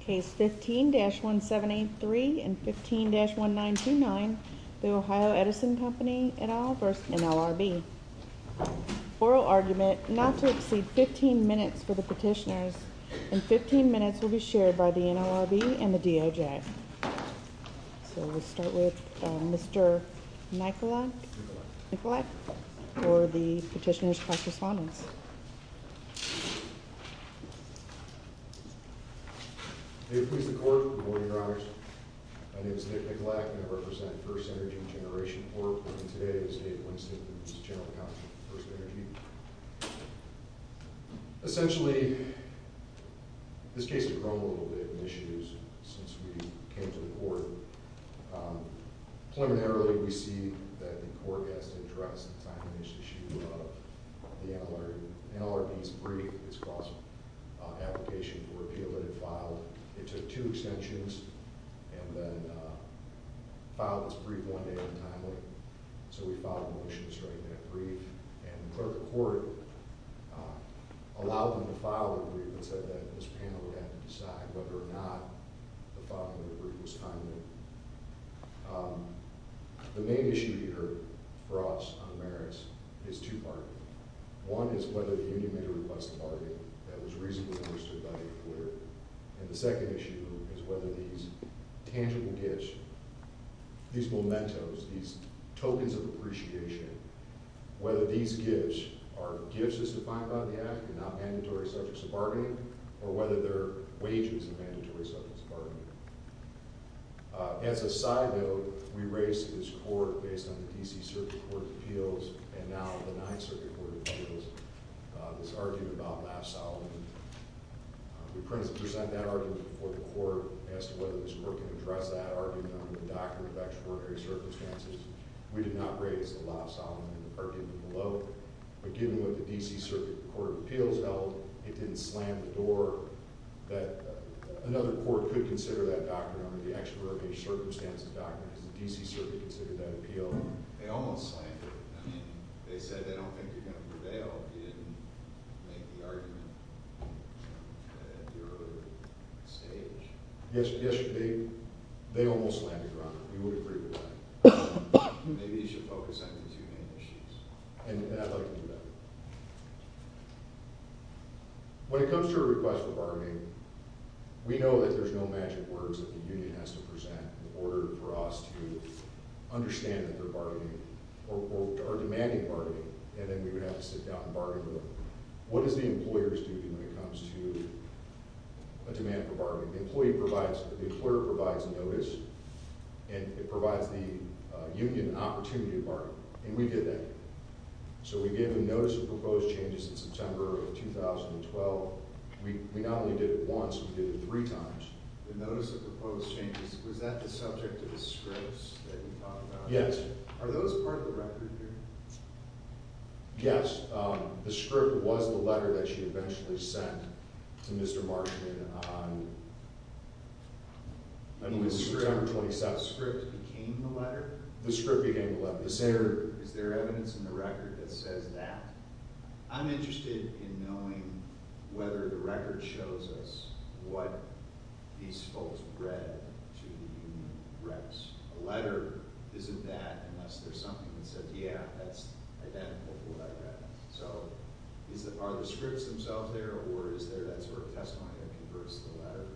Case 15-1783 and 15-1929, The Ohio Edison Company et al v. NLRB Oral argument not to exceed 15 minutes for the petitioners and 15 minutes will be shared by the NLRB and the DOJ So we'll start with Mr. Nikolak for the petitioner's cross-respondence. May it please the court, good morning, Your Honors. My name is Nick Nikolak and I represent First Energy Generation Corp. and today is 8th Wednesday of the General Conference of First Energy. Essentially, this case has grown a little bit in issues since we came to the court. Preliminarily, we see that the court has to address the timeliness issue of the NLRB's brief. It's cross-application for appeal that it filed. It took two extensions and then filed its brief one day untimely. So we filed a motion to straighten that brief and the clerk of court allowed them to file the brief but said that this panel would have to decide whether or not the filing of the brief was timely. The main issue here for us on merits is two-part. One is whether the union made a request of argument that was reasonably understood by the court. And the second issue is whether these tangible gifts, these mementos, these tokens of appreciation, whether these gifts are gifts as defined by the act and not mandatory subjects of bargaining or whether they're wages of mandatory subjects of bargaining. As a side note, we raised this court based on the D.C. Circuit Court of Appeals and now the 9th Circuit Court of Appeals this argument about Laf-Solomon. We present that argument before the court as to whether this court can address that argument under the Doctrine of Extraordinary Circumstances. We did not raise the Laf-Solomon in the parking lot below. But given what the D.C. Circuit Court of Appeals held, it didn't slam the door that another court could consider that doctrine under the Extraordinary Circumstances Doctrine. Has the D.C. Circuit considered that appeal? They almost slammed it. I mean, they said they don't think you're going to prevail. You didn't make the argument at your stage. Yes, they almost slammed the ground. We would agree with that. Maybe you should focus on the two main issues. And I'd like to do that. When it comes to a request for bargaining, we know that there's no magic words that the union has to present in order for us to understand that they're bargaining or demanding bargaining. And then we would have to sit down and bargain with them. What does the employer do when it comes to a demand for bargaining? The employer provides notice, and it provides the union an opportunity to bargain. And we did that. So we gave them notice of proposed changes in September of 2012. We not only did it once, we did it three times. The notice of proposed changes, was that the subject of the scripts that you talked about? Yes. Are those part of the record here? Yes. The script was the letter that she eventually sent to Mr. Marchman on September 27th. The script became the letter? The script became the letter. Is there evidence in the record that says that? I'm interested in knowing whether the record shows us what these folks read to the union reps. A letter isn't that unless there's something that says, yeah, that's identical to what I read. So are the scripts themselves there, or is there that sort of testimony that converts to the letter?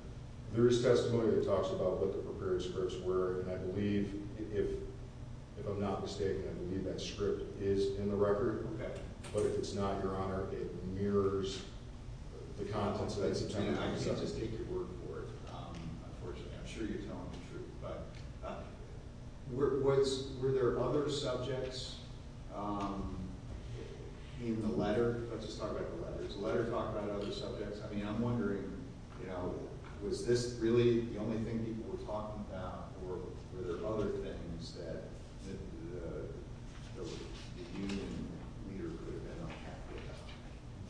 There is testimony that talks about what the prepared scripts were. And I believe, if I'm not mistaken, I believe that script is in the record. Okay. But if it's not, Your Honor, it mirrors the contents of that September meeting. I can't just take your word for it, unfortunately. I'm sure you're telling the truth. But were there other subjects in the letter? Let's just talk about the letter. Was the letter talking about other subjects? I mean, I'm wondering, you know, was this really the only thing people were talking about, or were there other things that the union leader could have been unhappy about?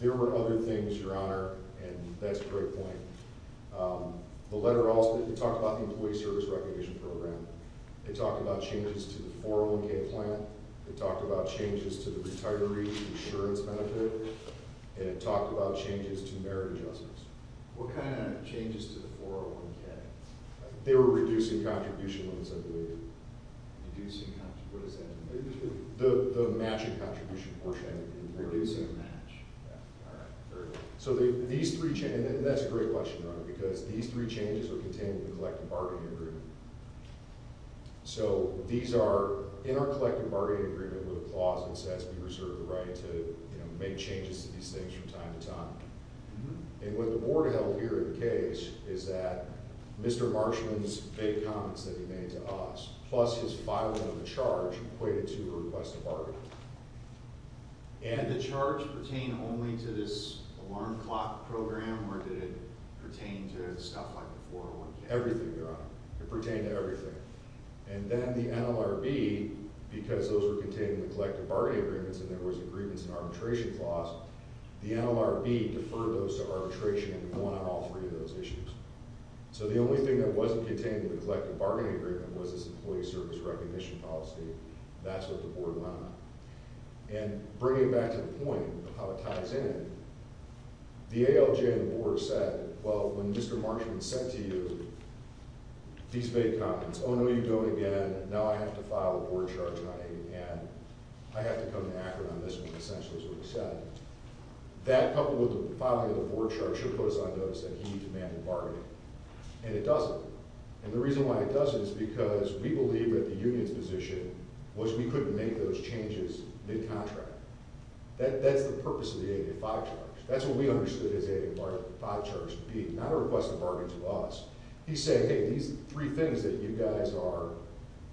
There were other things, Your Honor, and that's a great point. The letter also talked about the employee service recognition program. It talked about changes to the 401K plan. It talked about changes to the retiree insurance benefit. And it talked about changes to merit adjustments. What kind of changes to the 401K? They were reducing contribution loans, I believe. Reducing contributions. What does that mean? The matching contribution portion. Reducing match. Yeah. All right. Very good. So these three changes, and that's a great question, Your Honor, because these three changes are contained in the collective bargaining agreement. So these are in our collective bargaining agreement with a clause that says we reserve the right to, you know, make changes to these things from time to time. And what the board held here in the case is that Mr. Marshman's vague comments that he made to us, plus his filing of the charge equated to a request to bargain. And the charge pertained only to this alarm clock program, or did it pertain to stuff like the 401K? Everything, Your Honor. It pertained to everything. And then the NLRB, because those were contained in the collective bargaining agreements and there was a grievance and arbitration clause, the NLRB deferred those to arbitration and won on all three of those issues. So the only thing that wasn't contained in the collective bargaining agreement was this employee service recognition policy. That's what the board won on. And bringing it back to the point of how it ties in, the ALJ and the board said, well, when Mr. Marshman said to you these vague comments, oh, no, you're doing it again, and now I have to file a board charge running, and I have to come to Akron on this one, essentially, is what he said. That coupled with the filing of the board charge should put us on notice that he demanded bargaining. And it doesn't. And the reason why it doesn't is because we believe that the union's position was we couldn't make those changes mid-contract. That's the purpose of the 885 charge. That's what we understood the 885 charge to be, not a request to bargain to us. He said, hey, these three things that you guys are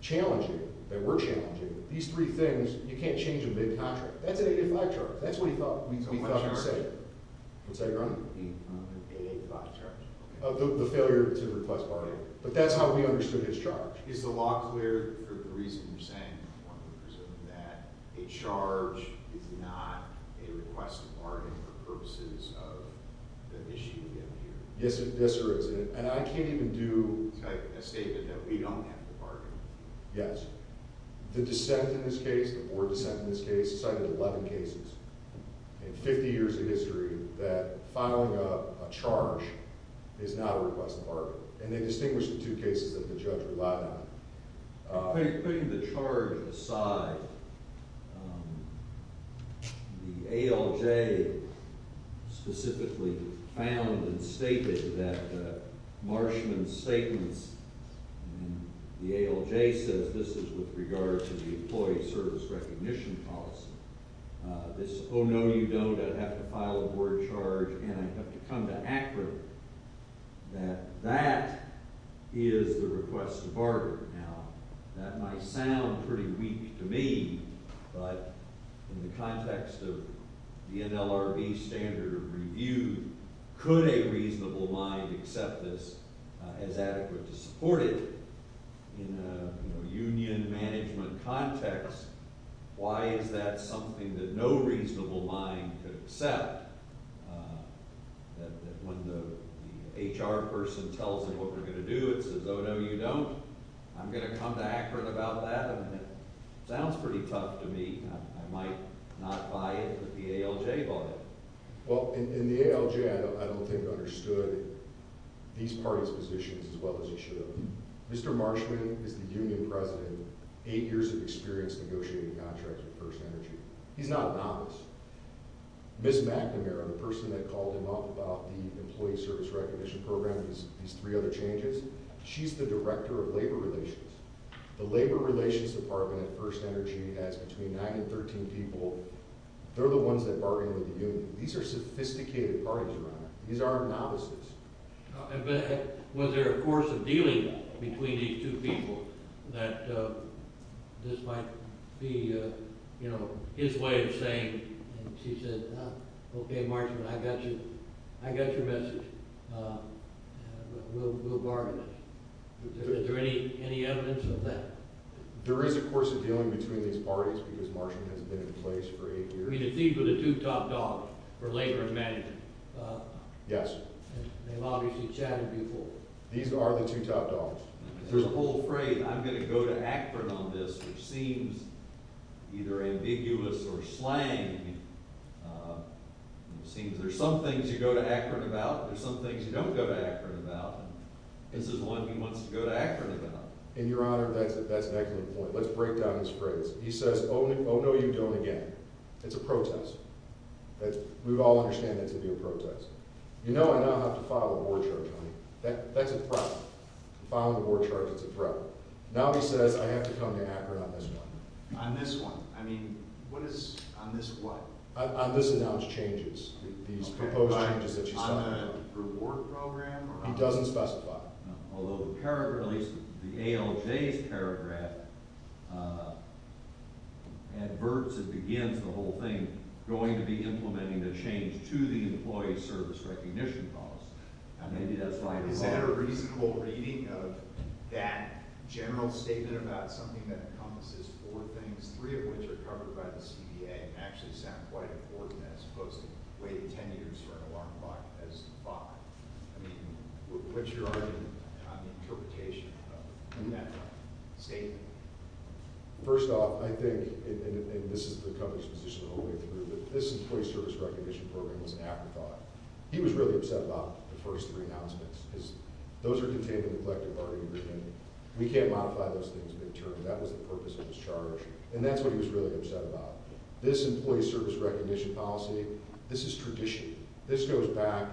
challenging, that we're challenging, these three things, you can't change them mid-contract. That's an 885 charge. That's what he thought we thought he said. So what charge? What's that again? The 885 charge. The failure to request bargaining. But that's how we understood his charge. Is the law clear for the reason you're saying that a charge is not a request to bargain for purposes of the issue we have here? Yes, sir. And I can't even do a statement that we don't have to bargain. Yes. The dissent in this case, the board dissent in this case, cited 11 cases in 50 years of history that filing a charge is not a request to bargain. And they distinguish the two cases that the judge relied on. Putting the charge aside, the ALJ specifically found and stated that Marshman's statements and the ALJ says this is with regard to the employee service recognition policy. This is, oh, no, you don't. I'd have to file a board charge, and I'd have to come to ACRA that that is the request to bargain. Now, that might sound pretty weak to me, but in the context of the NLRB standard review, could a reasonable mind accept this as adequate to support it? In a union management context, why is that something that no reasonable mind could accept, that when the HR person tells them what they're going to do, it says, oh, no, you don't? I'm going to come to ACRA about that, and it sounds pretty tough to me. I might not buy it, but the ALJ bought it. Well, in the ALJ, I don't think understood these parties' positions as well as you should have. Mr. Marshman is the union president, eight years of experience negotiating contracts with First Energy. He's not a novice. Ms. McNamara, the person that called him up about the employee service recognition program and these three other changes, she's the director of labor relations. The labor relations department at First Energy has between 9 and 13 people. They're the ones that bargain with the union. These are sophisticated parties around there. These aren't novices. But was there, of course, a dealing between these two people that this might be his way of saying, and she said, okay, Marshman, I got you. I got your message. We'll bargain. Is there any evidence of that? There is, of course, a dealing between these parties because Marshman has been in place for eight years. I mean, it seems with the two top dogs for labor and management. Yes. They've obviously chatted before. These are the two top dogs. There's a whole phrase, I'm going to go to Akron on this, which seems either ambiguous or slang. It seems there's some things you go to Akron about and there's some things you don't go to Akron about. This is one he wants to go to Akron about. And, Your Honor, that's an excellent point. Let's break down his phrase. He says, oh, no, you don't again. It's a protest. We all understand that to be a protest. You know I now have to file a board charge on you. That's a threat. Filing a board charge is a threat. Now he says I have to come to Akron on this one. On this one. I mean, what is on this what? On this announced changes, these proposed changes that she's talking about. On a reward program? He doesn't specify. Although the paragraph, at least the ALJ's paragraph adverts and begins the whole thing. Going to be implementing the change to the employee service recognition policy. Now maybe that's why. Is that a reasonable reading of that general statement about something that encompasses four things, three of which are covered by the CBA, and actually sound quite important as opposed to waiting ten years for an alarm clock as the five. I mean, what's your argument on the interpretation of that statement? First off, I think, and this is the company's position the whole way through, but this employee service recognition program was an afterthought. He was really upset about the first three announcements because those are contained in the collective bargaining agreement. We can't modify those things midterm. That was the purpose of his charge, and that's what he was really upset about. This employee service recognition policy, this is tradition. This goes back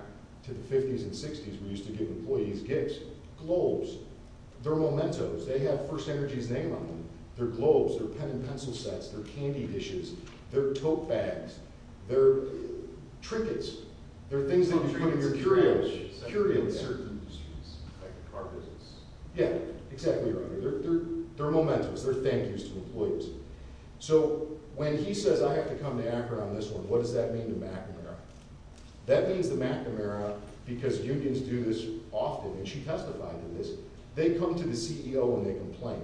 to the 50s and 60s. We used to give employees gifts, globes. They're mementos. They have First Energy's name on them. They're globes. They're pen and pencil sets. They're candy dishes. They're tote bags. They're trinkets. They're things that you put in your curio. Curios. Like the car business. Yeah, exactly right. They're mementos. They're thank yous to employees. So when he says, I have to come to ACRA on this one, what does that mean to McNamara? That means to McNamara, because unions do this often, and she testified to this, they come to the CEO and they complain.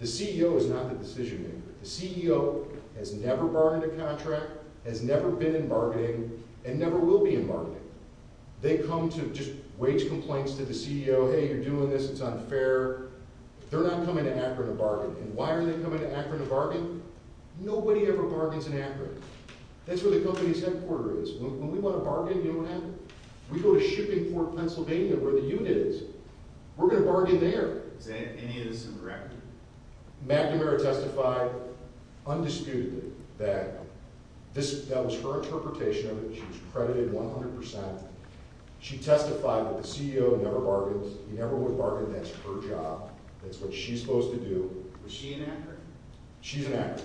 The CEO is not the decision maker. The CEO has never bargained a contract, has never been in bargaining, and never will be in bargaining. They come to just wage complaints to the CEO. Hey, you're doing this. It's unfair. They're not coming to ACRA to bargain, and why are they coming to ACRA to bargain? Nobody ever bargains in ACRA. That's where the company's headquarter is. When we want to bargain, you know what happens? We go to Shippingport, Pennsylvania, where the unit is. We're going to bargain there. Is any of this incorrect? McNamara testified undisputedly that that was her interpretation of it. She was credited 100%. She testified that the CEO never bargains. He never would bargain. That's her job. That's what she's supposed to do. Was she in ACRA? She's in ACRA.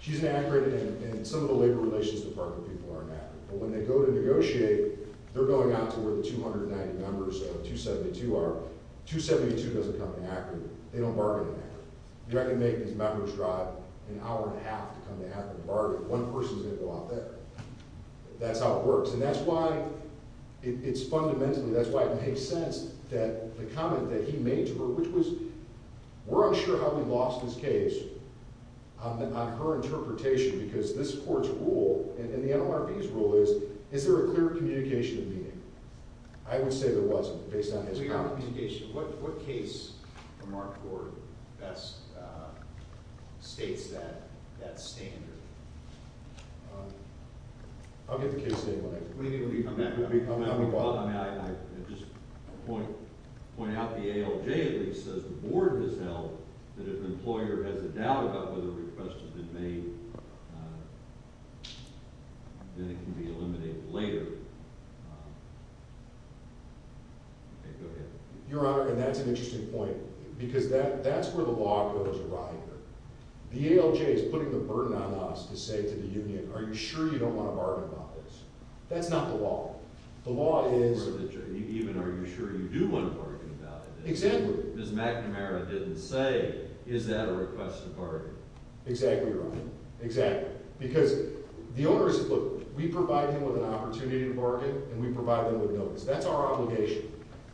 She's in ACRA, and some of the labor relations department people are in ACRA. But when they go to negotiate, they're going out to where the 290 members of 272 are. 272 doesn't come to ACRA. They don't bargain in ACRA. You're not going to make these members drive an hour and a half to come to ACRA to bargain. One person's going to go out there. That's how it works. And that's why it's fundamentally, that's why it makes sense that the comment that he made to her, which was, we're unsure how he lost his case on her interpretation because this court's rule and the NMRB's rule is, is there a clear communication of meaning? I would say there wasn't based on his comment. What case from our court best states that standard? I'll get the case statement. I just want to point out the ALJ, at least, says the board has held that if an employer has a doubt about whether a request has been made, then it can be eliminated later. Go ahead. Your Honor, and that's an interesting point because that's where the law goes awry here. The ALJ is putting the burden on us to say to the union, are you sure you don't want to bargain about this? That's not the law. The law is. Even are you sure you do want to bargain about it? Exactly. Ms. McNamara didn't say, is that a request to bargain? Exactly, Your Honor. Exactly. Because the owners, look, we provide them with an opportunity to bargain and we provide them with notice. That's our obligation.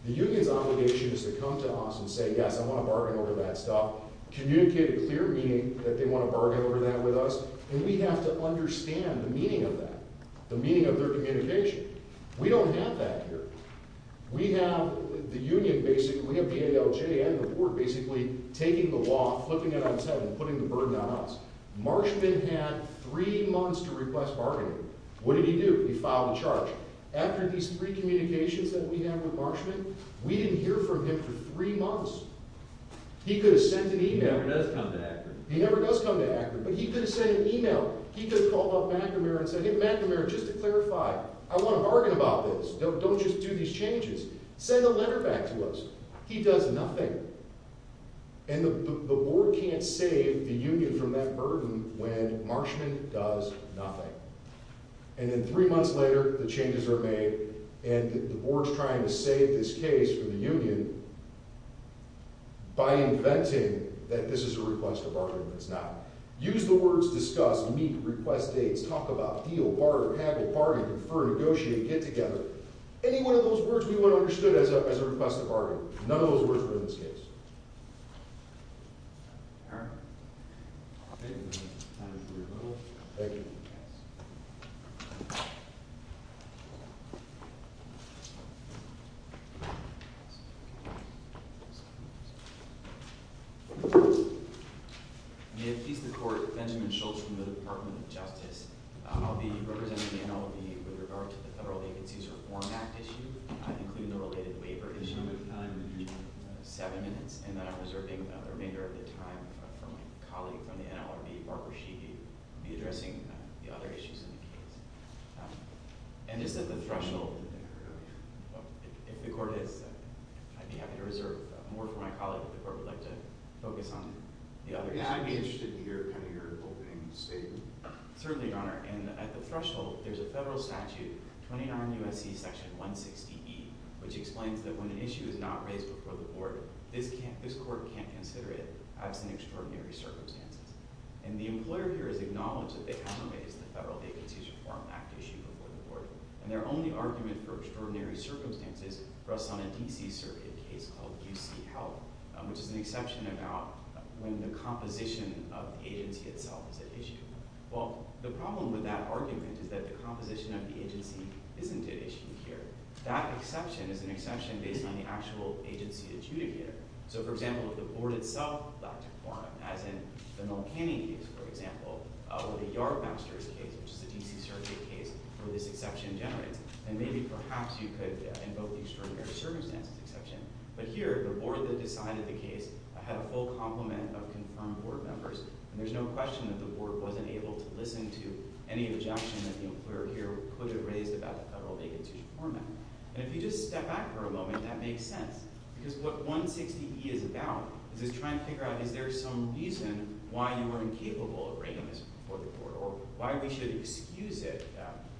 The union's obligation is to come to us and say, yes, I want to bargain over that stuff. Communicate a clear meaning that they want to bargain over that with us. And we have to understand the meaning of that, the meaning of their communication. We don't have that here. We have the union basically, we have the ALJ and the board basically taking the law, flipping it on its head and putting the burden on us. Marshman had three months to request bargaining. What did he do? He filed a charge. After these three communications that we had with Marshman, we didn't hear from him for three months. He could have sent an email. He never does come to Akron. He never does come to Akron, but he could have sent an email. He could have called up McNamara and said, hey, McNamara, just to clarify, I want to bargain about this. Don't just do these changes. Send a letter back to us. He does nothing. And the board can't save the union from that burden when Marshman does nothing. And then three months later, the changes are made, and the board's trying to save this case for the union by inventing that this is a request to bargain and it's not. Use the words discuss, meet, request dates, talk about, deal, barter, haggle, bargain, prefer, negotiate, get together. Any one of those words we would have understood as a request to bargain. None of those words were in this case. Eric? I'll take it. Time is very little. I'll take it. Yes. I'm going to introduce the court, Benjamin Schultz from the Department of Justice. I'll be representing the NLD with regard to the Federal Agencies Reform Act issue, including the related waiver issue. Seven minutes, and then I'm reserving the remainder of the time for my colleague from the NLRB, Parker Sheehy, to be addressing the other issues in the case. And just at the threshold, if the court is, I'd be happy to reserve more for my colleague, but the court would like to focus on the other issues. Yeah, I'd be interested to hear kind of your opening statement. Certainly, Your Honor. And at the threshold, there's a federal statute, 29 U.S.C. Section 160E, which explains that when an issue is not raised before the board, this court can't consider it as an extraordinary circumstance. And the employer here has acknowledged that they haven't raised the Federal Agencies Reform Act issue before the board. And their only argument for extraordinary circumstances rests on a D.C. Circuit case called UC Health, which is an exception about when the composition of the agency itself is at issue. Well, the problem with that argument is that the composition of the agency isn't at issue here. That exception is an exception based on the actual agency adjudicator. So, for example, if the board itself got to form it, as in the Mill Canyon case, for example, or the Yardmasters case, which is a D.C. Circuit case, where this exception generates, then maybe perhaps you could invoke the extraordinary circumstances exception. But here, the board that decided the case had a full complement of confirmed board members, and there's no question that the board wasn't able to listen to any objection that the employer here could have raised about the Federal Agencies Reform Act. And if you just step back for a moment, that makes sense. Because what 160E is about is it's trying to figure out is there some reason why you were incapable of raising this before the board or why we should excuse it.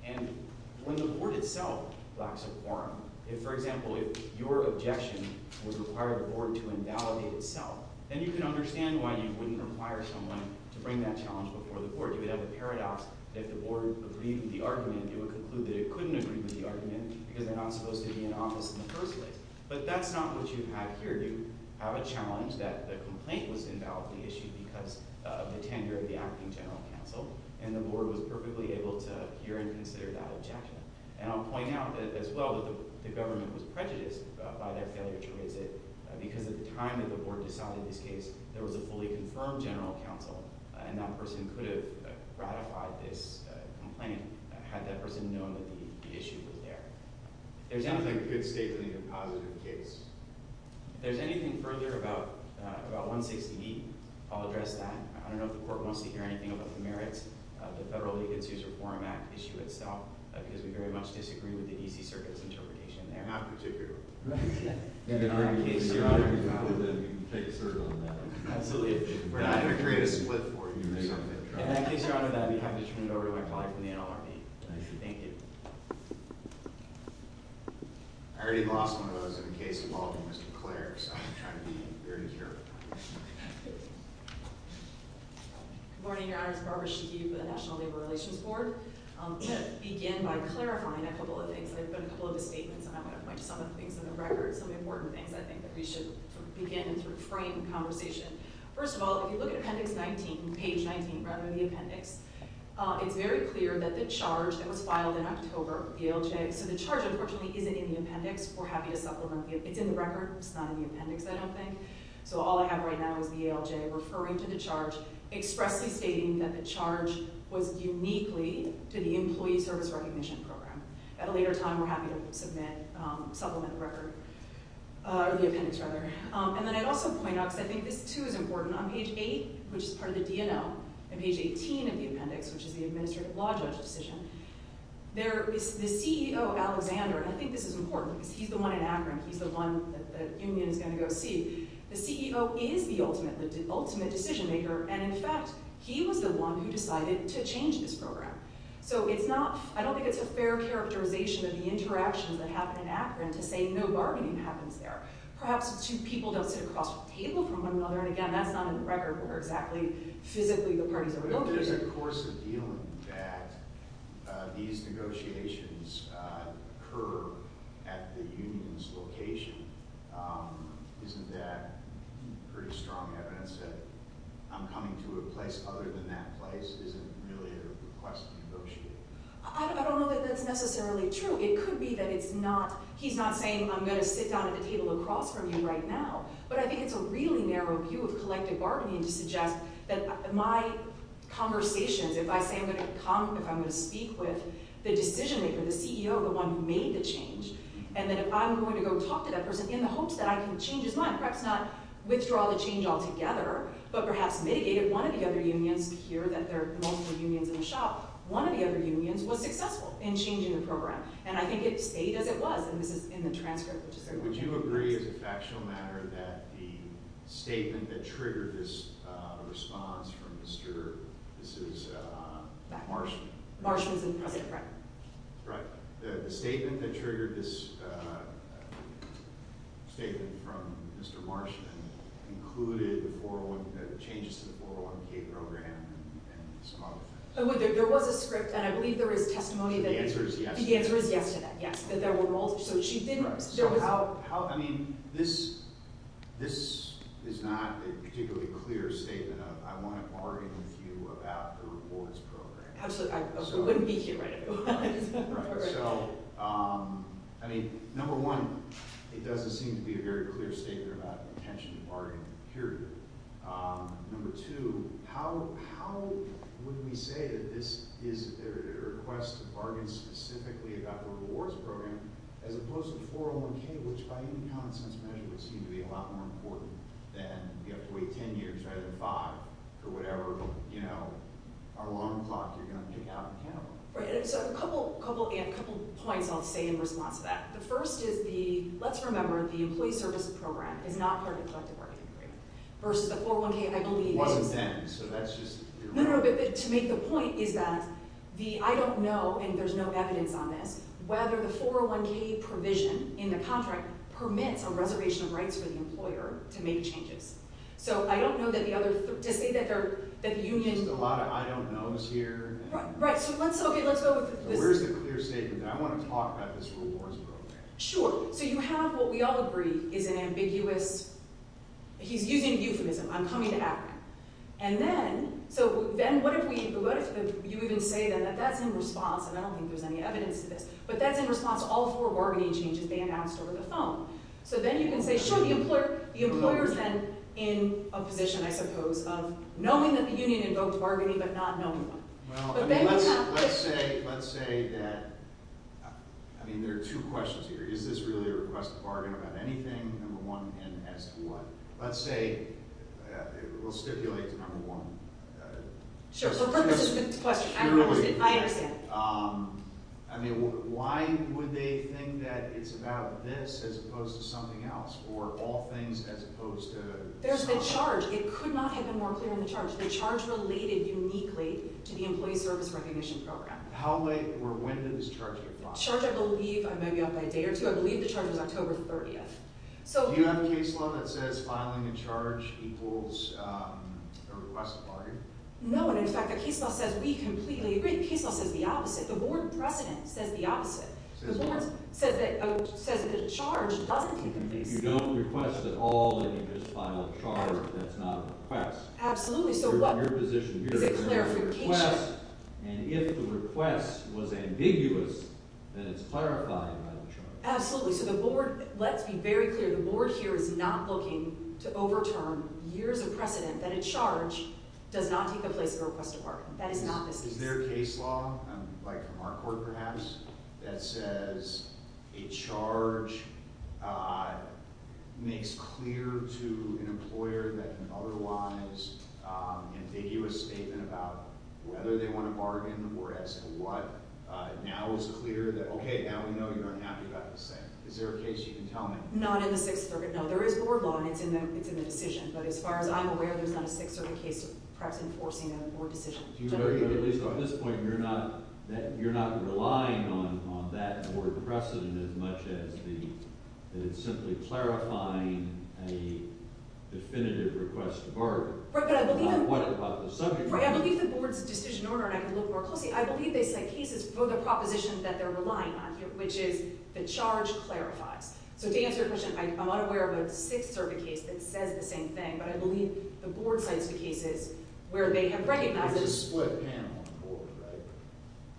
And when the board itself lacks a quorum, if, for example, if your objection would require the board to invalidate itself, then you can understand why you wouldn't require someone to bring that challenge before the board. You would have a paradox that if the board agreed with the argument, it would conclude that it couldn't agree with the argument because they're not supposed to be in office in the first place. But that's not what you have here. You have a challenge that the complaint was invalidly issued because of the tenure of the acting general counsel, and the board was perfectly able to hear and consider that objection. And I'll point out as well that the government was prejudiced by their failure to raise it because at the time that the board decided this case, there was a fully confirmed general counsel, and that person could have ratified this complaint had that person known that the issue was there. I don't think a good statement is a positive case. If there's anything further about 160E, I'll address that. I don't know if the court wants to hear anything about the merits of the Federal Legates User Quorum Act issue itself because we very much disagree with the EC Circuit's interpretation there. Not particularly. In that case, Your Honor, we have to turn it over to my colleague from the NLRB. Thank you. I already lost one of those in the case involving Mr. Clair, so I'm trying to be very careful. Good morning, Your Honor. It's Barbara Schicke for the National Labor Relations Board. I'm going to begin by clarifying a couple of things. I've got a couple of misstatements, and I'm going to point to some of the things in the record, some important things I think that we should begin to frame in conversation. First of all, if you look at appendix 19, page 19, right under the appendix, it's very clear that the charge that was filed in October, the ALJ, so the charge, unfortunately, isn't in the appendix. We're happy to supplement. It's in the record. It's not in the appendix, I don't think. So all I have right now is the ALJ referring to the charge, expressly stating that the charge was uniquely to the Employee Service Recognition Program. At a later time, we're happy to submit, supplement the record, or the appendix, rather. And then I'd also point out, because I think this, too, is important, on page 8, which is part of the DNO, and page 18 of the appendix, which is the Administrative Law Judge decision, there is the CEO, Alexander. I think this is important because he's the one in Akron. He's the one that the union is going to go see. The CEO is the ultimate decision maker, and in fact, he was the one who decided to change this program. So it's not – I don't think it's a fair characterization of the interactions that happen in Akron to say no bargaining happens there. Perhaps two people don't sit across from the table from one another, and again, that's not in the record where exactly physically the parties are located. There's a course of dealing that these negotiations occur at the union's location. Isn't that pretty strong evidence that I'm coming to a place other than that place isn't really a request to negotiate? I don't know that that's necessarily true. It could be that it's not – he's not saying I'm going to sit down at the table across from you right now, but I think it's a really narrow view of collective bargaining to suggest that my conversations, if I say I'm going to come, if I'm going to speak with the decision maker, the CEO, the one who made the change, and that if I'm going to go talk to that person in the hopes that I can change his mind, perhaps not withdraw the change altogether, but perhaps mitigate it. One of the other unions – you hear that there are multiple unions in the shop. One of the other unions was successful in changing the program, and I think it stayed as it was, and this is in the transcript. Would you agree as a factual matter that the statement that triggered this response from Mr. – this is Marshman. Marshman's in front. Right. The statement that triggered this statement from Mr. Marshman included the 401 – the changes to the 401k program and some other things. There was a script, and I believe there was testimony that – The answer is yes. The answer is yes to that, yes, that there were multiple – so she did – How – I mean, this is not a particularly clear statement of I want to bargain with you about the rewards program. Absolutely. I wouldn't be here right now. Right. So, I mean, number one, it doesn't seem to be a very clear statement about intention to bargain, period. Number two, how would we say that this is a request to bargain specifically about the rewards program as opposed to the 401k, which by any common-sense measure would seem to be a lot more important than you have to wait 10 years rather than five for whatever, you know, alarm clock you're going to pick out in Canada. Right. So a couple points I'll say in response to that. The first is the – let's remember the employee services program is not part of the collective bargaining agreement versus the 401k. It wasn't then, so that's just – No, no, no, but to make the point is that the I don't know, and there's no evidence on this, whether the 401k provision in the contract permits a reservation of rights for the employer to make changes. So I don't know that the other – to say that the union – There's a lot of I don't knows here. Right. So let's – okay, let's go with this. Where's the clear statement that I want to talk about this rewards program? Sure. So you have what we all agree is an ambiguous – he's using euphemism. I'm coming to Africa. And then – so then what if we – what if you even say then that that's in response, and I don't think there's any evidence to this, but that's in response to all four bargaining changes they announced over the phone. So then you can say, sure, the employer is then in a position, I suppose, of knowing that the union invoked bargaining but not knowing them. Well, let's say that – I mean, there are two questions here. Is this really a request to bargain about anything, number one, and as to what? Let's say – we'll stipulate to number one. Sure. So first is the question. I understand. I mean, why would they think that it's about this as opposed to something else or all things as opposed to – There's the charge. It could not have been more clear in the charge. The charge related uniquely to the employee service recognition program. How late or when did this charge apply? The charge, I believe – I may be off by a day or two. I believe the charge was October 30th. Do you have a case law that says filing a charge equals a request to bargain? No. And, in fact, the case law says we completely agree. The case law says the opposite. The board precedent says the opposite. The board says that a charge doesn't take place. You don't request at all that you just file a charge that's not a request. Absolutely. So what – You're in your position here. Is it clarification? And if the request was ambiguous, then it's clarifying by the charge. Absolutely. So the board – Let's be very clear. The board here is not looking to overturn years of precedent that a charge does not take the place of a request to bargain. That is not this case. Is there a case law, like from our court perhaps, that says a charge makes clear to an employer that an otherwise ambiguous statement about whether they want to bargain or as to what Now it's clear that, okay, now we know you're unhappy about this thing. Is there a case you can tell me? Not in the Sixth Circuit. No, there is board law, and it's in the decision. But as far as I'm aware, there's not a Sixth Circuit case perhaps enforcing a board decision. Do you know, at least on this point, you're not relying on that board precedent as much as it's simply clarifying a definitive request to bargain? Right, but I believe – What about the subject matter? Right, I believe the board's decision order, and I can look more closely, I believe they have cases for the propositions that they're relying on, which is the charge clarifies. So to answer your question, I'm unaware of a Sixth Circuit case that says the same thing, but I believe the board cites the cases where they have recognized – There's a split panel on the board, right?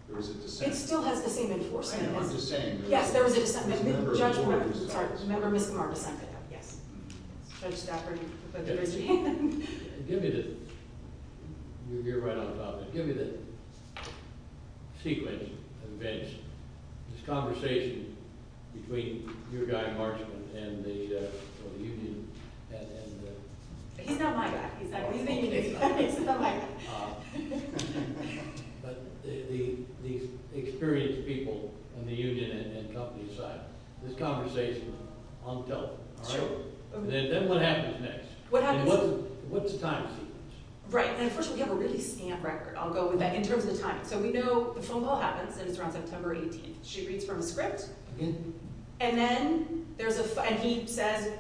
There's a dissent. It still has the same enforcement. I know, I'm just saying – Yes, there was a dissent. There was a member of the board who dissented. Sorry, there was a member of the board who dissented. Yes. Judge Stafford. Give me the – you're right on top of it. Give me the sequence of events, this conversation between your guy, Marchman, and the union and – He's not my guy. He's the union's guy. He's not my guy. But the experienced people in the union and company side, this conversation on the telephone. Sure. Then what happens next? What happens – What's the time sequence? Right, and unfortunately, we have a really scant record. I'll go with that in terms of the timing. So we know the phone call happens, and it's around September 18th. She reads from a script, and then there's a – and he says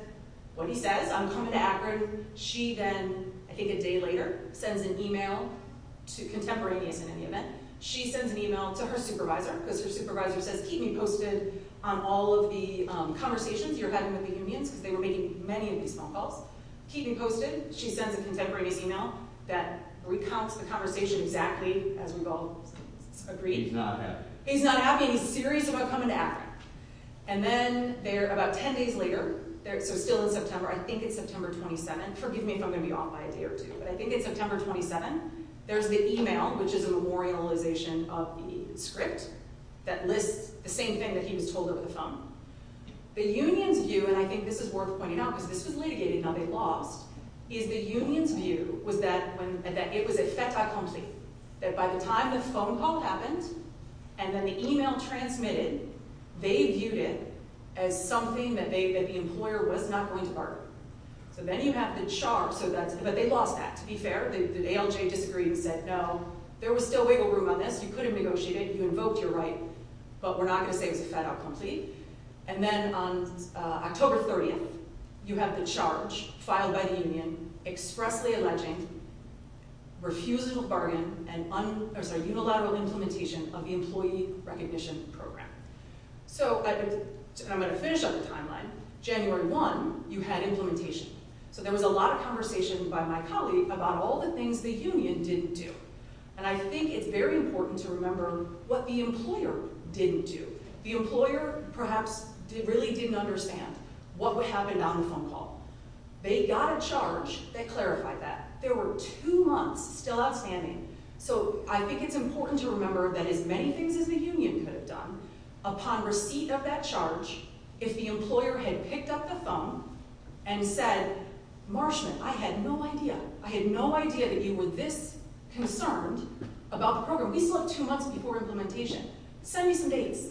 what he says. I'm coming to Akron. She then, I think a day later, sends an email to – contemporaneous in any event. She sends an email to her supervisor because her supervisor says, Keep me posted on all of the conversations you're having with the unions because they were making many of these phone calls. Keep me posted. She sends a contemporaneous email that recounts the conversation exactly as we've all agreed. He's not happy. He's not happy, and he's serious about coming to Akron. And then about 10 days later – so still in September. I think it's September 27th. Forgive me if I'm going to be off by a day or two, but I think it's September 27th. There's the email, which is a memorialization of the script that lists the same thing that he was told over the phone. The union's view – and I think this is worth pointing out because this was litigated. Now, they lost – is the union's view was that it was a fait accompli, that by the time the phone call happened and then the email transmitted, they viewed it as something that the employer was not going to bargain. So then you have the char. But they lost that, to be fair. The ALJ disagreed and said no. There was still wiggle room on this. You could have negotiated. You invoked your right, but we're not going to say it was a fait accompli. And then on October 30th, you have the char, filed by the union, expressly alleging refusal to bargain and unilateral implementation of the employee recognition program. So I'm going to finish on the timeline. January 1, you had implementation. So there was a lot of conversation by my colleague about all the things the union didn't do. And I think it's very important to remember what the employer didn't do. The employer perhaps really didn't understand what happened on the phone call. They got a charge that clarified that. There were two months still outstanding. So I think it's important to remember that as many things as the union could have done, upon receipt of that charge, if the employer had picked up the phone and said, Marshman, I had no idea. I had no idea that you were this concerned about the program. We still have two months before implementation. Send me some dates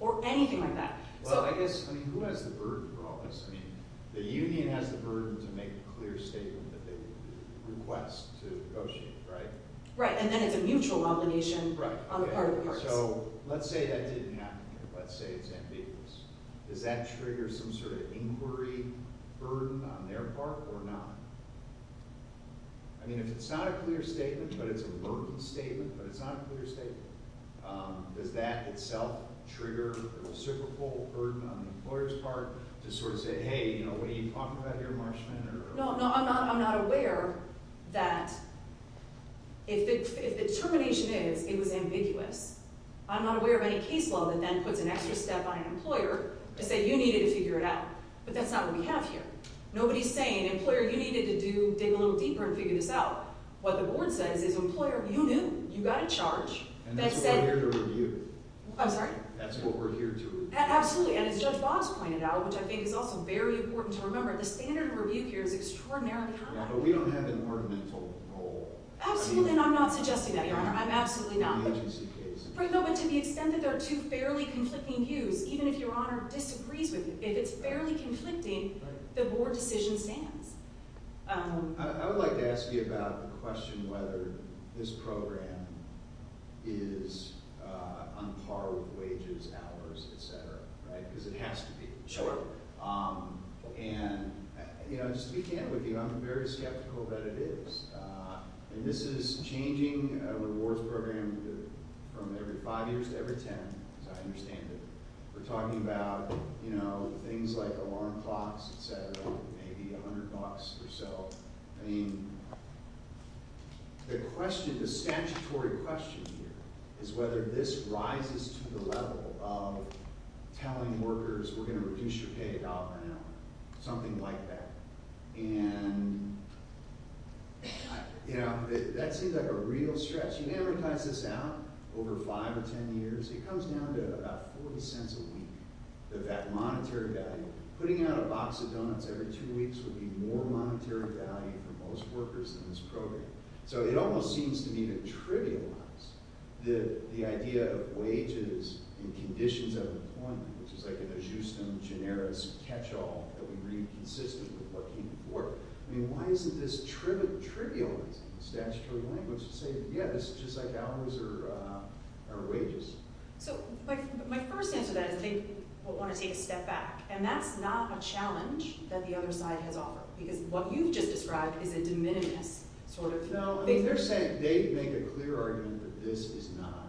or anything like that. Well, I guess, I mean, who has the burden for all this? I mean, the union has the burden to make a clear statement that they request to negotiate, right? And then it's a mutual nomination on the part of the courts. So let's say that didn't happen here. Let's say it's ambiguous. Does that trigger some sort of inquiry burden on their part or not? I mean, if it's not a clear statement, but it's a working statement, but it's not a clear statement, does that itself trigger a reciprocal burden on the employer's part to sort of say, hey, you know, what are you talking about here, Marshman? No, I'm not aware that if the termination is, it was ambiguous. I'm not aware of any case law that then puts an extra step on an employer to say you needed to figure it out. But that's not what we have here. Nobody's saying, employer, you needed to dig a little deeper and figure this out. What the board says is, employer, you knew. You got a charge. And that's what we're here to review. I'm sorry? That's what we're here to review. And as Judge Bob's pointed out, which I think is also very important to remember, the standard of review here is extraordinarily high. But we don't have an ornamental role. Absolutely. And I'm not suggesting that, Your Honor. I'm absolutely not. In the agency case. But to the extent that there are two fairly conflicting views, even if Your Honor disagrees with you, if it's fairly conflicting, the board decision stands. I would like to ask you about the question whether this program is on par with wages, hours, et cetera. Because it has to be. Sure. And, you know, just to be candid with you, I'm very skeptical that it is. And this is changing a rewards program from every five years to every ten, as I understand it. We're talking about, you know, things like alarm clocks, et cetera, maybe 100 bucks or so. I mean, the question, the statutory question here is whether this rises to the level of telling workers, we're going to reduce your pay about an hour. Something like that. And, you know, that seems like a real stretch. You can amortize this out over five or ten years. It comes down to about 40 cents a week, that monetary value. Putting out a box of donuts every two weeks would be more monetary value for most workers in this program. So it almost seems to me to trivialize the idea of wages and conditions of employment, which is like an ajustum generis catch-all that we read consistently before. I mean, why isn't this trivializing the statutory language to say, yeah, this is just like hours or wages? So my first answer to that is they want to take a step back. And that's not a challenge that the other side has offered. Because what you've just described is a de minimis sort of thing. No, they're saying, they make a clear argument that this is not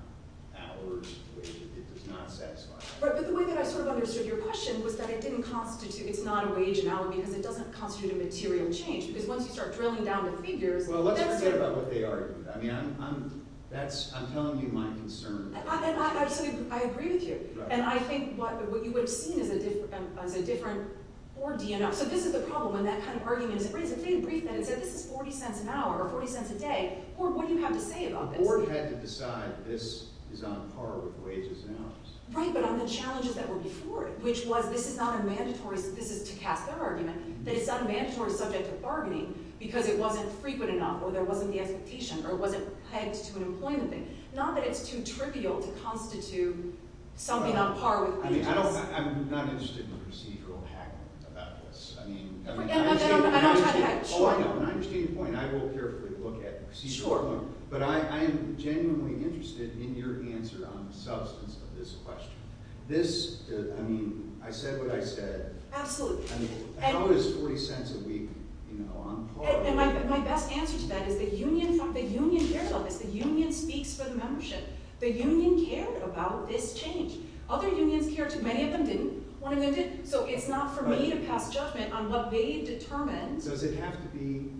hours, wages. It does not satisfy them. Right, but the way that I sort of understood your question was that it didn't constitute – it's not a wage and hour because it doesn't constitute a material change. Because once you start drilling down to figures – Well, let's forget about what they argued. I mean, that's – I'm telling you my concern. I absolutely – I agree with you. And I think what you would have seen is a different board DNR. So this is the problem when that kind of argument is raised. If they had briefed them and said this is 40 cents an hour or 40 cents a day, what would you have to say about this? The board had to decide this is on par with wages and hours. Right, but on the challenges that were before it, which was this is not a mandatory – this is to cast their argument. That it's not a mandatory subject of bargaining because it wasn't frequent enough or there wasn't the expectation or it wasn't pegged to an employment thing. Not that it's too trivial to constitute something on par with wages. I mean, I don't – I'm not interested in procedural hacking about this. I mean – I don't try to hack. Sure. All I know, and I understand your point, I will carefully look at the procedural point. Sure. But I am genuinely interested in your answer on the substance of this question. This – I mean, I said what I said. Absolutely. I mean, how is 40 cents a week, you know, on par with – And my best answer to that is the union – the union cares about this. The union speaks for the membership. The union cared about this change. Other unions cared too. Many of them didn't. One of them did. So it's not for me to pass judgment on what they determined. Does it have to be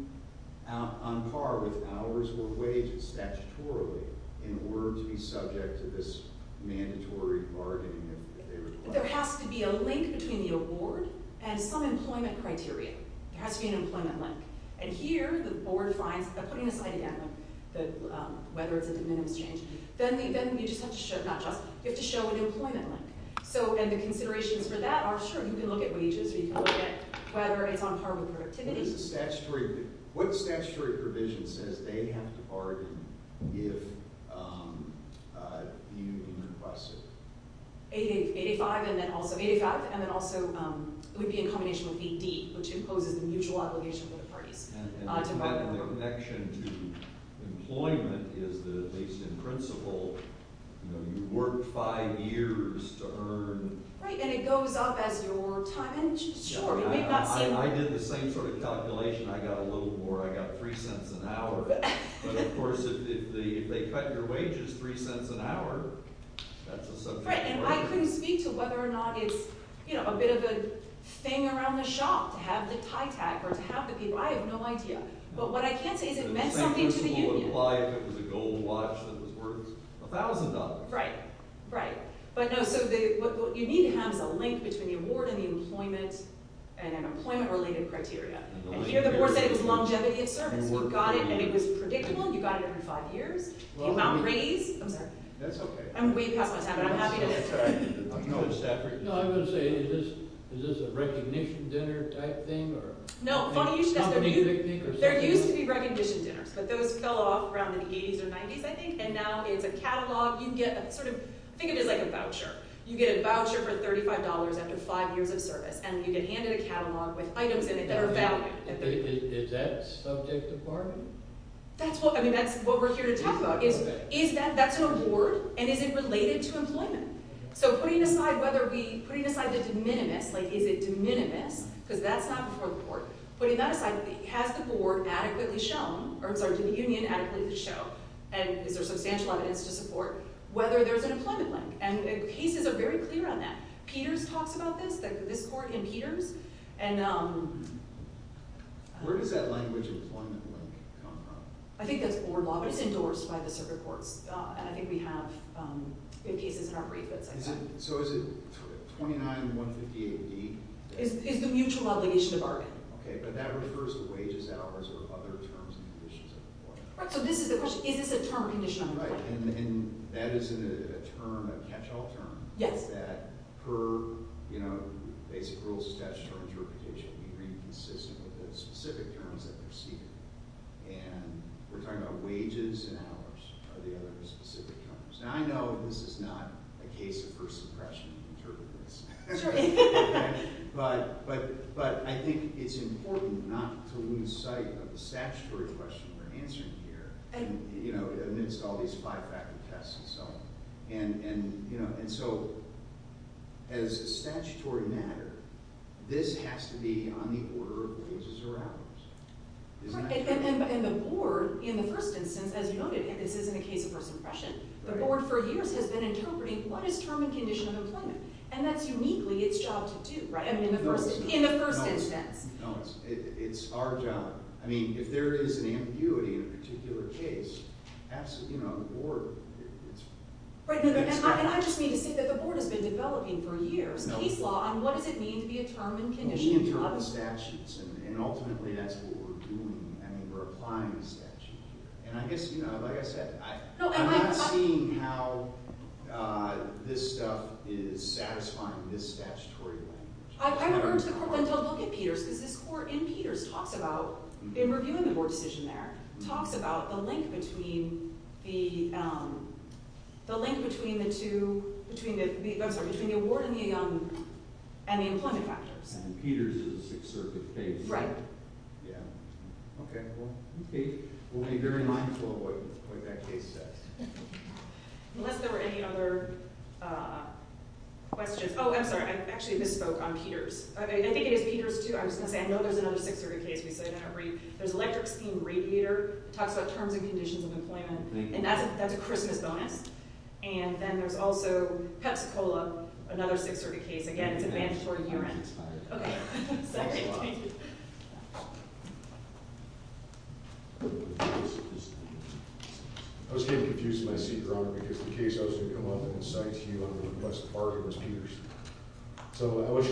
on par with hours or wages statutorily in order to be subject to this mandatory bargaining that they require? There has to be a link between the award and some employment criteria. There has to be an employment link. And here, the board finds – putting aside, again, whether it's a de minimis change – then you just have to show – not just – you have to show an employment link. So – and the considerations for that are, sure, you can look at wages or you can look at whether it's on par with productivity. Statutory – what statutory provision says they have to bargain if the union requests it? 85 and then also – 85 and then also it would be in combination with D, which imposes a mutual obligation for the parties to bargain. The connection to employment is that, at least in principle, you work five years to earn – Right, and it goes up as your work time. And, sure, it may not seem – I did the same sort of calculation. I got a little more. I got three cents an hour. But, of course, if they cut your wages three cents an hour, that's a subject – Right, and I couldn't speak to whether or not it's a bit of a thing around the shop to have the TITAC or to have the – I have no idea. But what I can say is it meant something to the union. Same principle would apply if it was a gold watch that was worth $1,000. Right, right. But, no, so what you need to have is a link between the award and the employment and an employment-related criteria. And here the board said it was longevity of service. You got it and it was predictable. You got it in five years. You won't raise – I'm sorry. That's okay. I'm way past my time, but I'm happy to – No, I'm going to say is this a recognition dinner type thing or – No, there used to be recognition dinners, but those fell off around the 80s or 90s, I think, and now it's a catalog. You get sort of – think of it as like a voucher. You get a voucher for $35 after five years of service, and you get handed a catalog with items in it that are valued. Is that subject to bargaining? That's what – I mean that's what we're here to talk about. Is that – that's an award, and is it related to employment? So putting aside whether we – putting aside the de minimis, like is it de minimis because that's not before the court. Putting that aside, has the board adequately shown – or I'm sorry, did the union adequately show and is there substantial evidence to support whether there's an employment link? And cases are very clear on that. Peters talks about this, this court and Peters, and – Where does that language employment link come from? I think that's board law, but it's endorsed by the circuit courts. And I think we have good cases in our brief that say that. So is it 29-150-AD? It's the mutual obligation to bargain. Okay, but that refers to wages, hours, or other terms and conditions of employment. Right, so this is the question, is this a term or condition of employment? Right, and that is a term, a catch-all term. Yes. That per, you know, basic rules of statutory interpretation, we remain consistent with the specific terms that they're seeking. And we're talking about wages and hours are the other specific terms. Now I know this is not a case of first impression interpreters. Sure. But I think it's important not to lose sight of the statutory question we're answering here, you know, amidst all these five-factor tests and so on. And so as a statutory matter, this has to be on the order of wages or hours. And the board, in the first instance, as you noted, this isn't a case of first impression. The board for years has been interpreting what is term and condition of employment. And that's uniquely its job to do, right? In the first instance. No, it's our job. I mean, if there is an ambiguity in a particular case, ask, you know, the board. Right, and I just need to say that the board has been developing for years case law on what does it mean to be a term and condition. We interpret the statutes, and ultimately that's what we're doing. I mean, we're applying the statute. And I guess, you know, like I said, I'm not seeing how this stuff is satisfying this statutory language. I would urge the court then to look at Peters, because this court in Peters talks about, in reviewing the board decision there, talks about the link between the award and the employment factors. Peters is a Sixth Circuit case. Right. Yeah. Okay, well, we'll be very mindful of what that case says. Unless there were any other questions. Oh, I'm sorry. I actually misspoke on Peters. I think it is Peters, too. I was going to say, I know there's another Sixth Circuit case. There's electric steam radiator. It talks about terms and conditions of employment. And that's a Christmas bonus. And then there's also Pepsi-Cola, another Sixth Circuit case. Again, it's a mandatory year end. Okay. I was getting confused in my seat, Your Honor, because the case I was going to come up and cite to you on the request of Barney was Peters. So I wish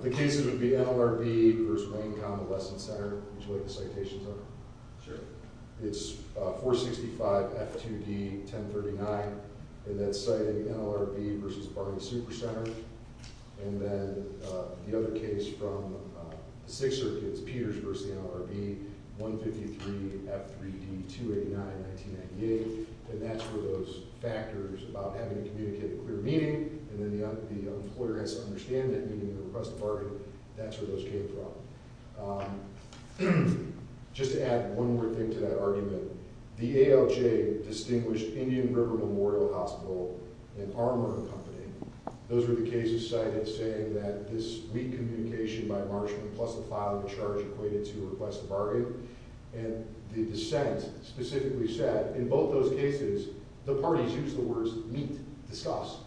the cases would be NLRB versus Wayne Convalescent Center, which is what the citations are. Sure. It's 465 F2D 1039. And that's citing NLRB versus Barney Supercenter. And then the other case from the Sixth Circuit is Peters versus NLRB, 153 F3D 289 1998. And that's where those factors about having to communicate a clear meaning, and then the employer has to understand that meaning in the request of Barney, that's where those came from. Just to add one more thing to that argument, the ALJ, Distinguished Indian River Memorial Hospital and Armor Company. Those are the cases cited saying that this weak communication by marshalling plus a file of charge equated to a request to bargain. And the dissent specifically said, in both those cases, the parties used the words meet, discuss.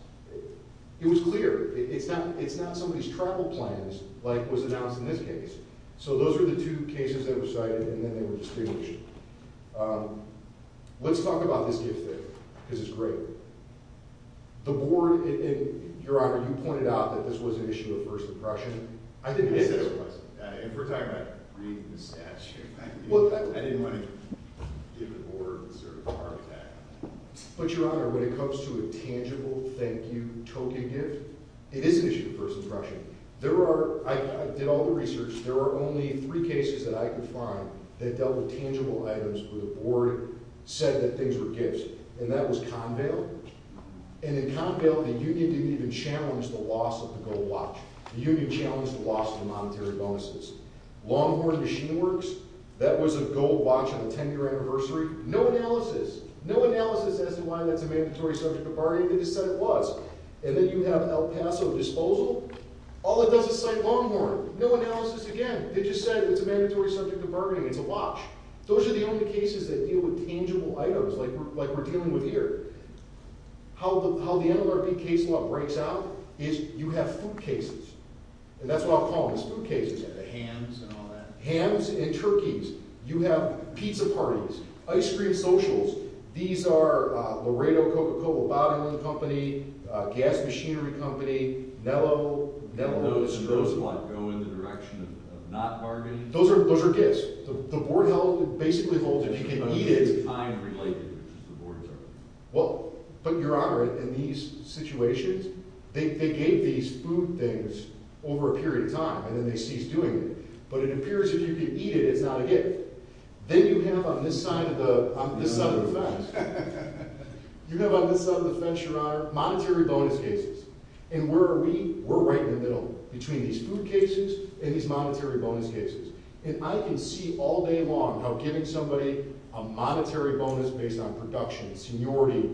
It was clear. It's not somebody's travel plans like was announced in this case. So those are the two cases that were cited, and then they were distinguished. Let's talk about this gift here, because it's great. The board, and Your Honor, you pointed out that this was an issue of first impression. I didn't answer that question. If we're talking about reading the statute, I didn't want to give the board the sort of heart attack. But, Your Honor, when it comes to a tangible thank you token gift, it is an issue of first impression. There are, I did all the research, there are only three cases that I could find that dealt with tangible items where the board said that things were gifts. And that was Convale. And in Convale, the union didn't even challenge the loss of the gold watch. The union challenged the loss of the monetary bonuses. Longhorn Machine Works, that was a gold watch on a 10-year anniversary. No analysis. No analysis as to why that's a mandatory subject of bargaining. They just said it was. And then you have El Paso Disposal. All it does is cite Longhorn. They just said it's a mandatory subject of bargaining. It's a watch. Those are the only cases that deal with tangible items like we're dealing with here. How the NLRB case law breaks out is you have food cases. And that's what I'll call them, is food cases. The hams and all that. Hams and turkeys. You have pizza parties. Ice cream socials. These are Laredo Coca-Cola Bottling Company, Gas Machinery Company, Nello. Those go in the direction of not bargaining. Those are gifts. The board basically holds that you can eat it. But, Your Honor, in these situations, they gave these food things over a period of time. And then they ceased doing it. But it appears if you can eat it, it's not a gift. Then you have on this side of the fence, Your Honor, monetary bonus cases. And where are we? We're right in the middle between these food cases and these monetary bonus cases. And I can see all day long how giving somebody a monetary bonus based on production, seniority,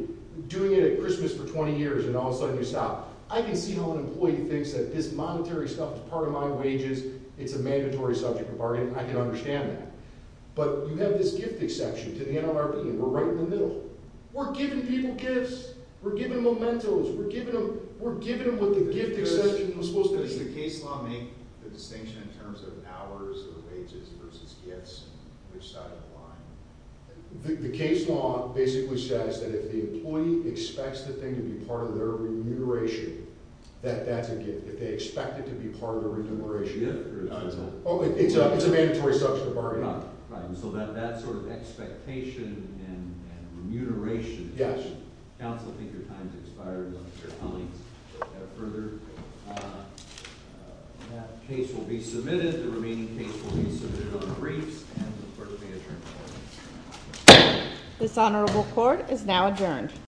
doing it at Christmas for 20 years and all of a sudden you stop. I can see how an employee thinks that this monetary stuff is part of my wages. It's a mandatory subject of bargaining. I can understand that. But you have this gift exception to the NLRB and we're right in the middle. We're giving people gifts. We're giving them mementos. We're giving them what the gift exception was supposed to be. So does the case law make the distinction in terms of hours or wages versus gifts? Which side of the line? The case law basically says that if the employee expects the thing to be part of their remuneration, that that's a gift. If they expect it to be part of their remuneration, it's a mandatory subject of bargaining. So that sort of expectation and remuneration. Yes. Counsel, I think your time has expired. Further, that case will be submitted. The remaining case will be submitted on briefs and the court will be adjourned. This honorable court is now adjourned.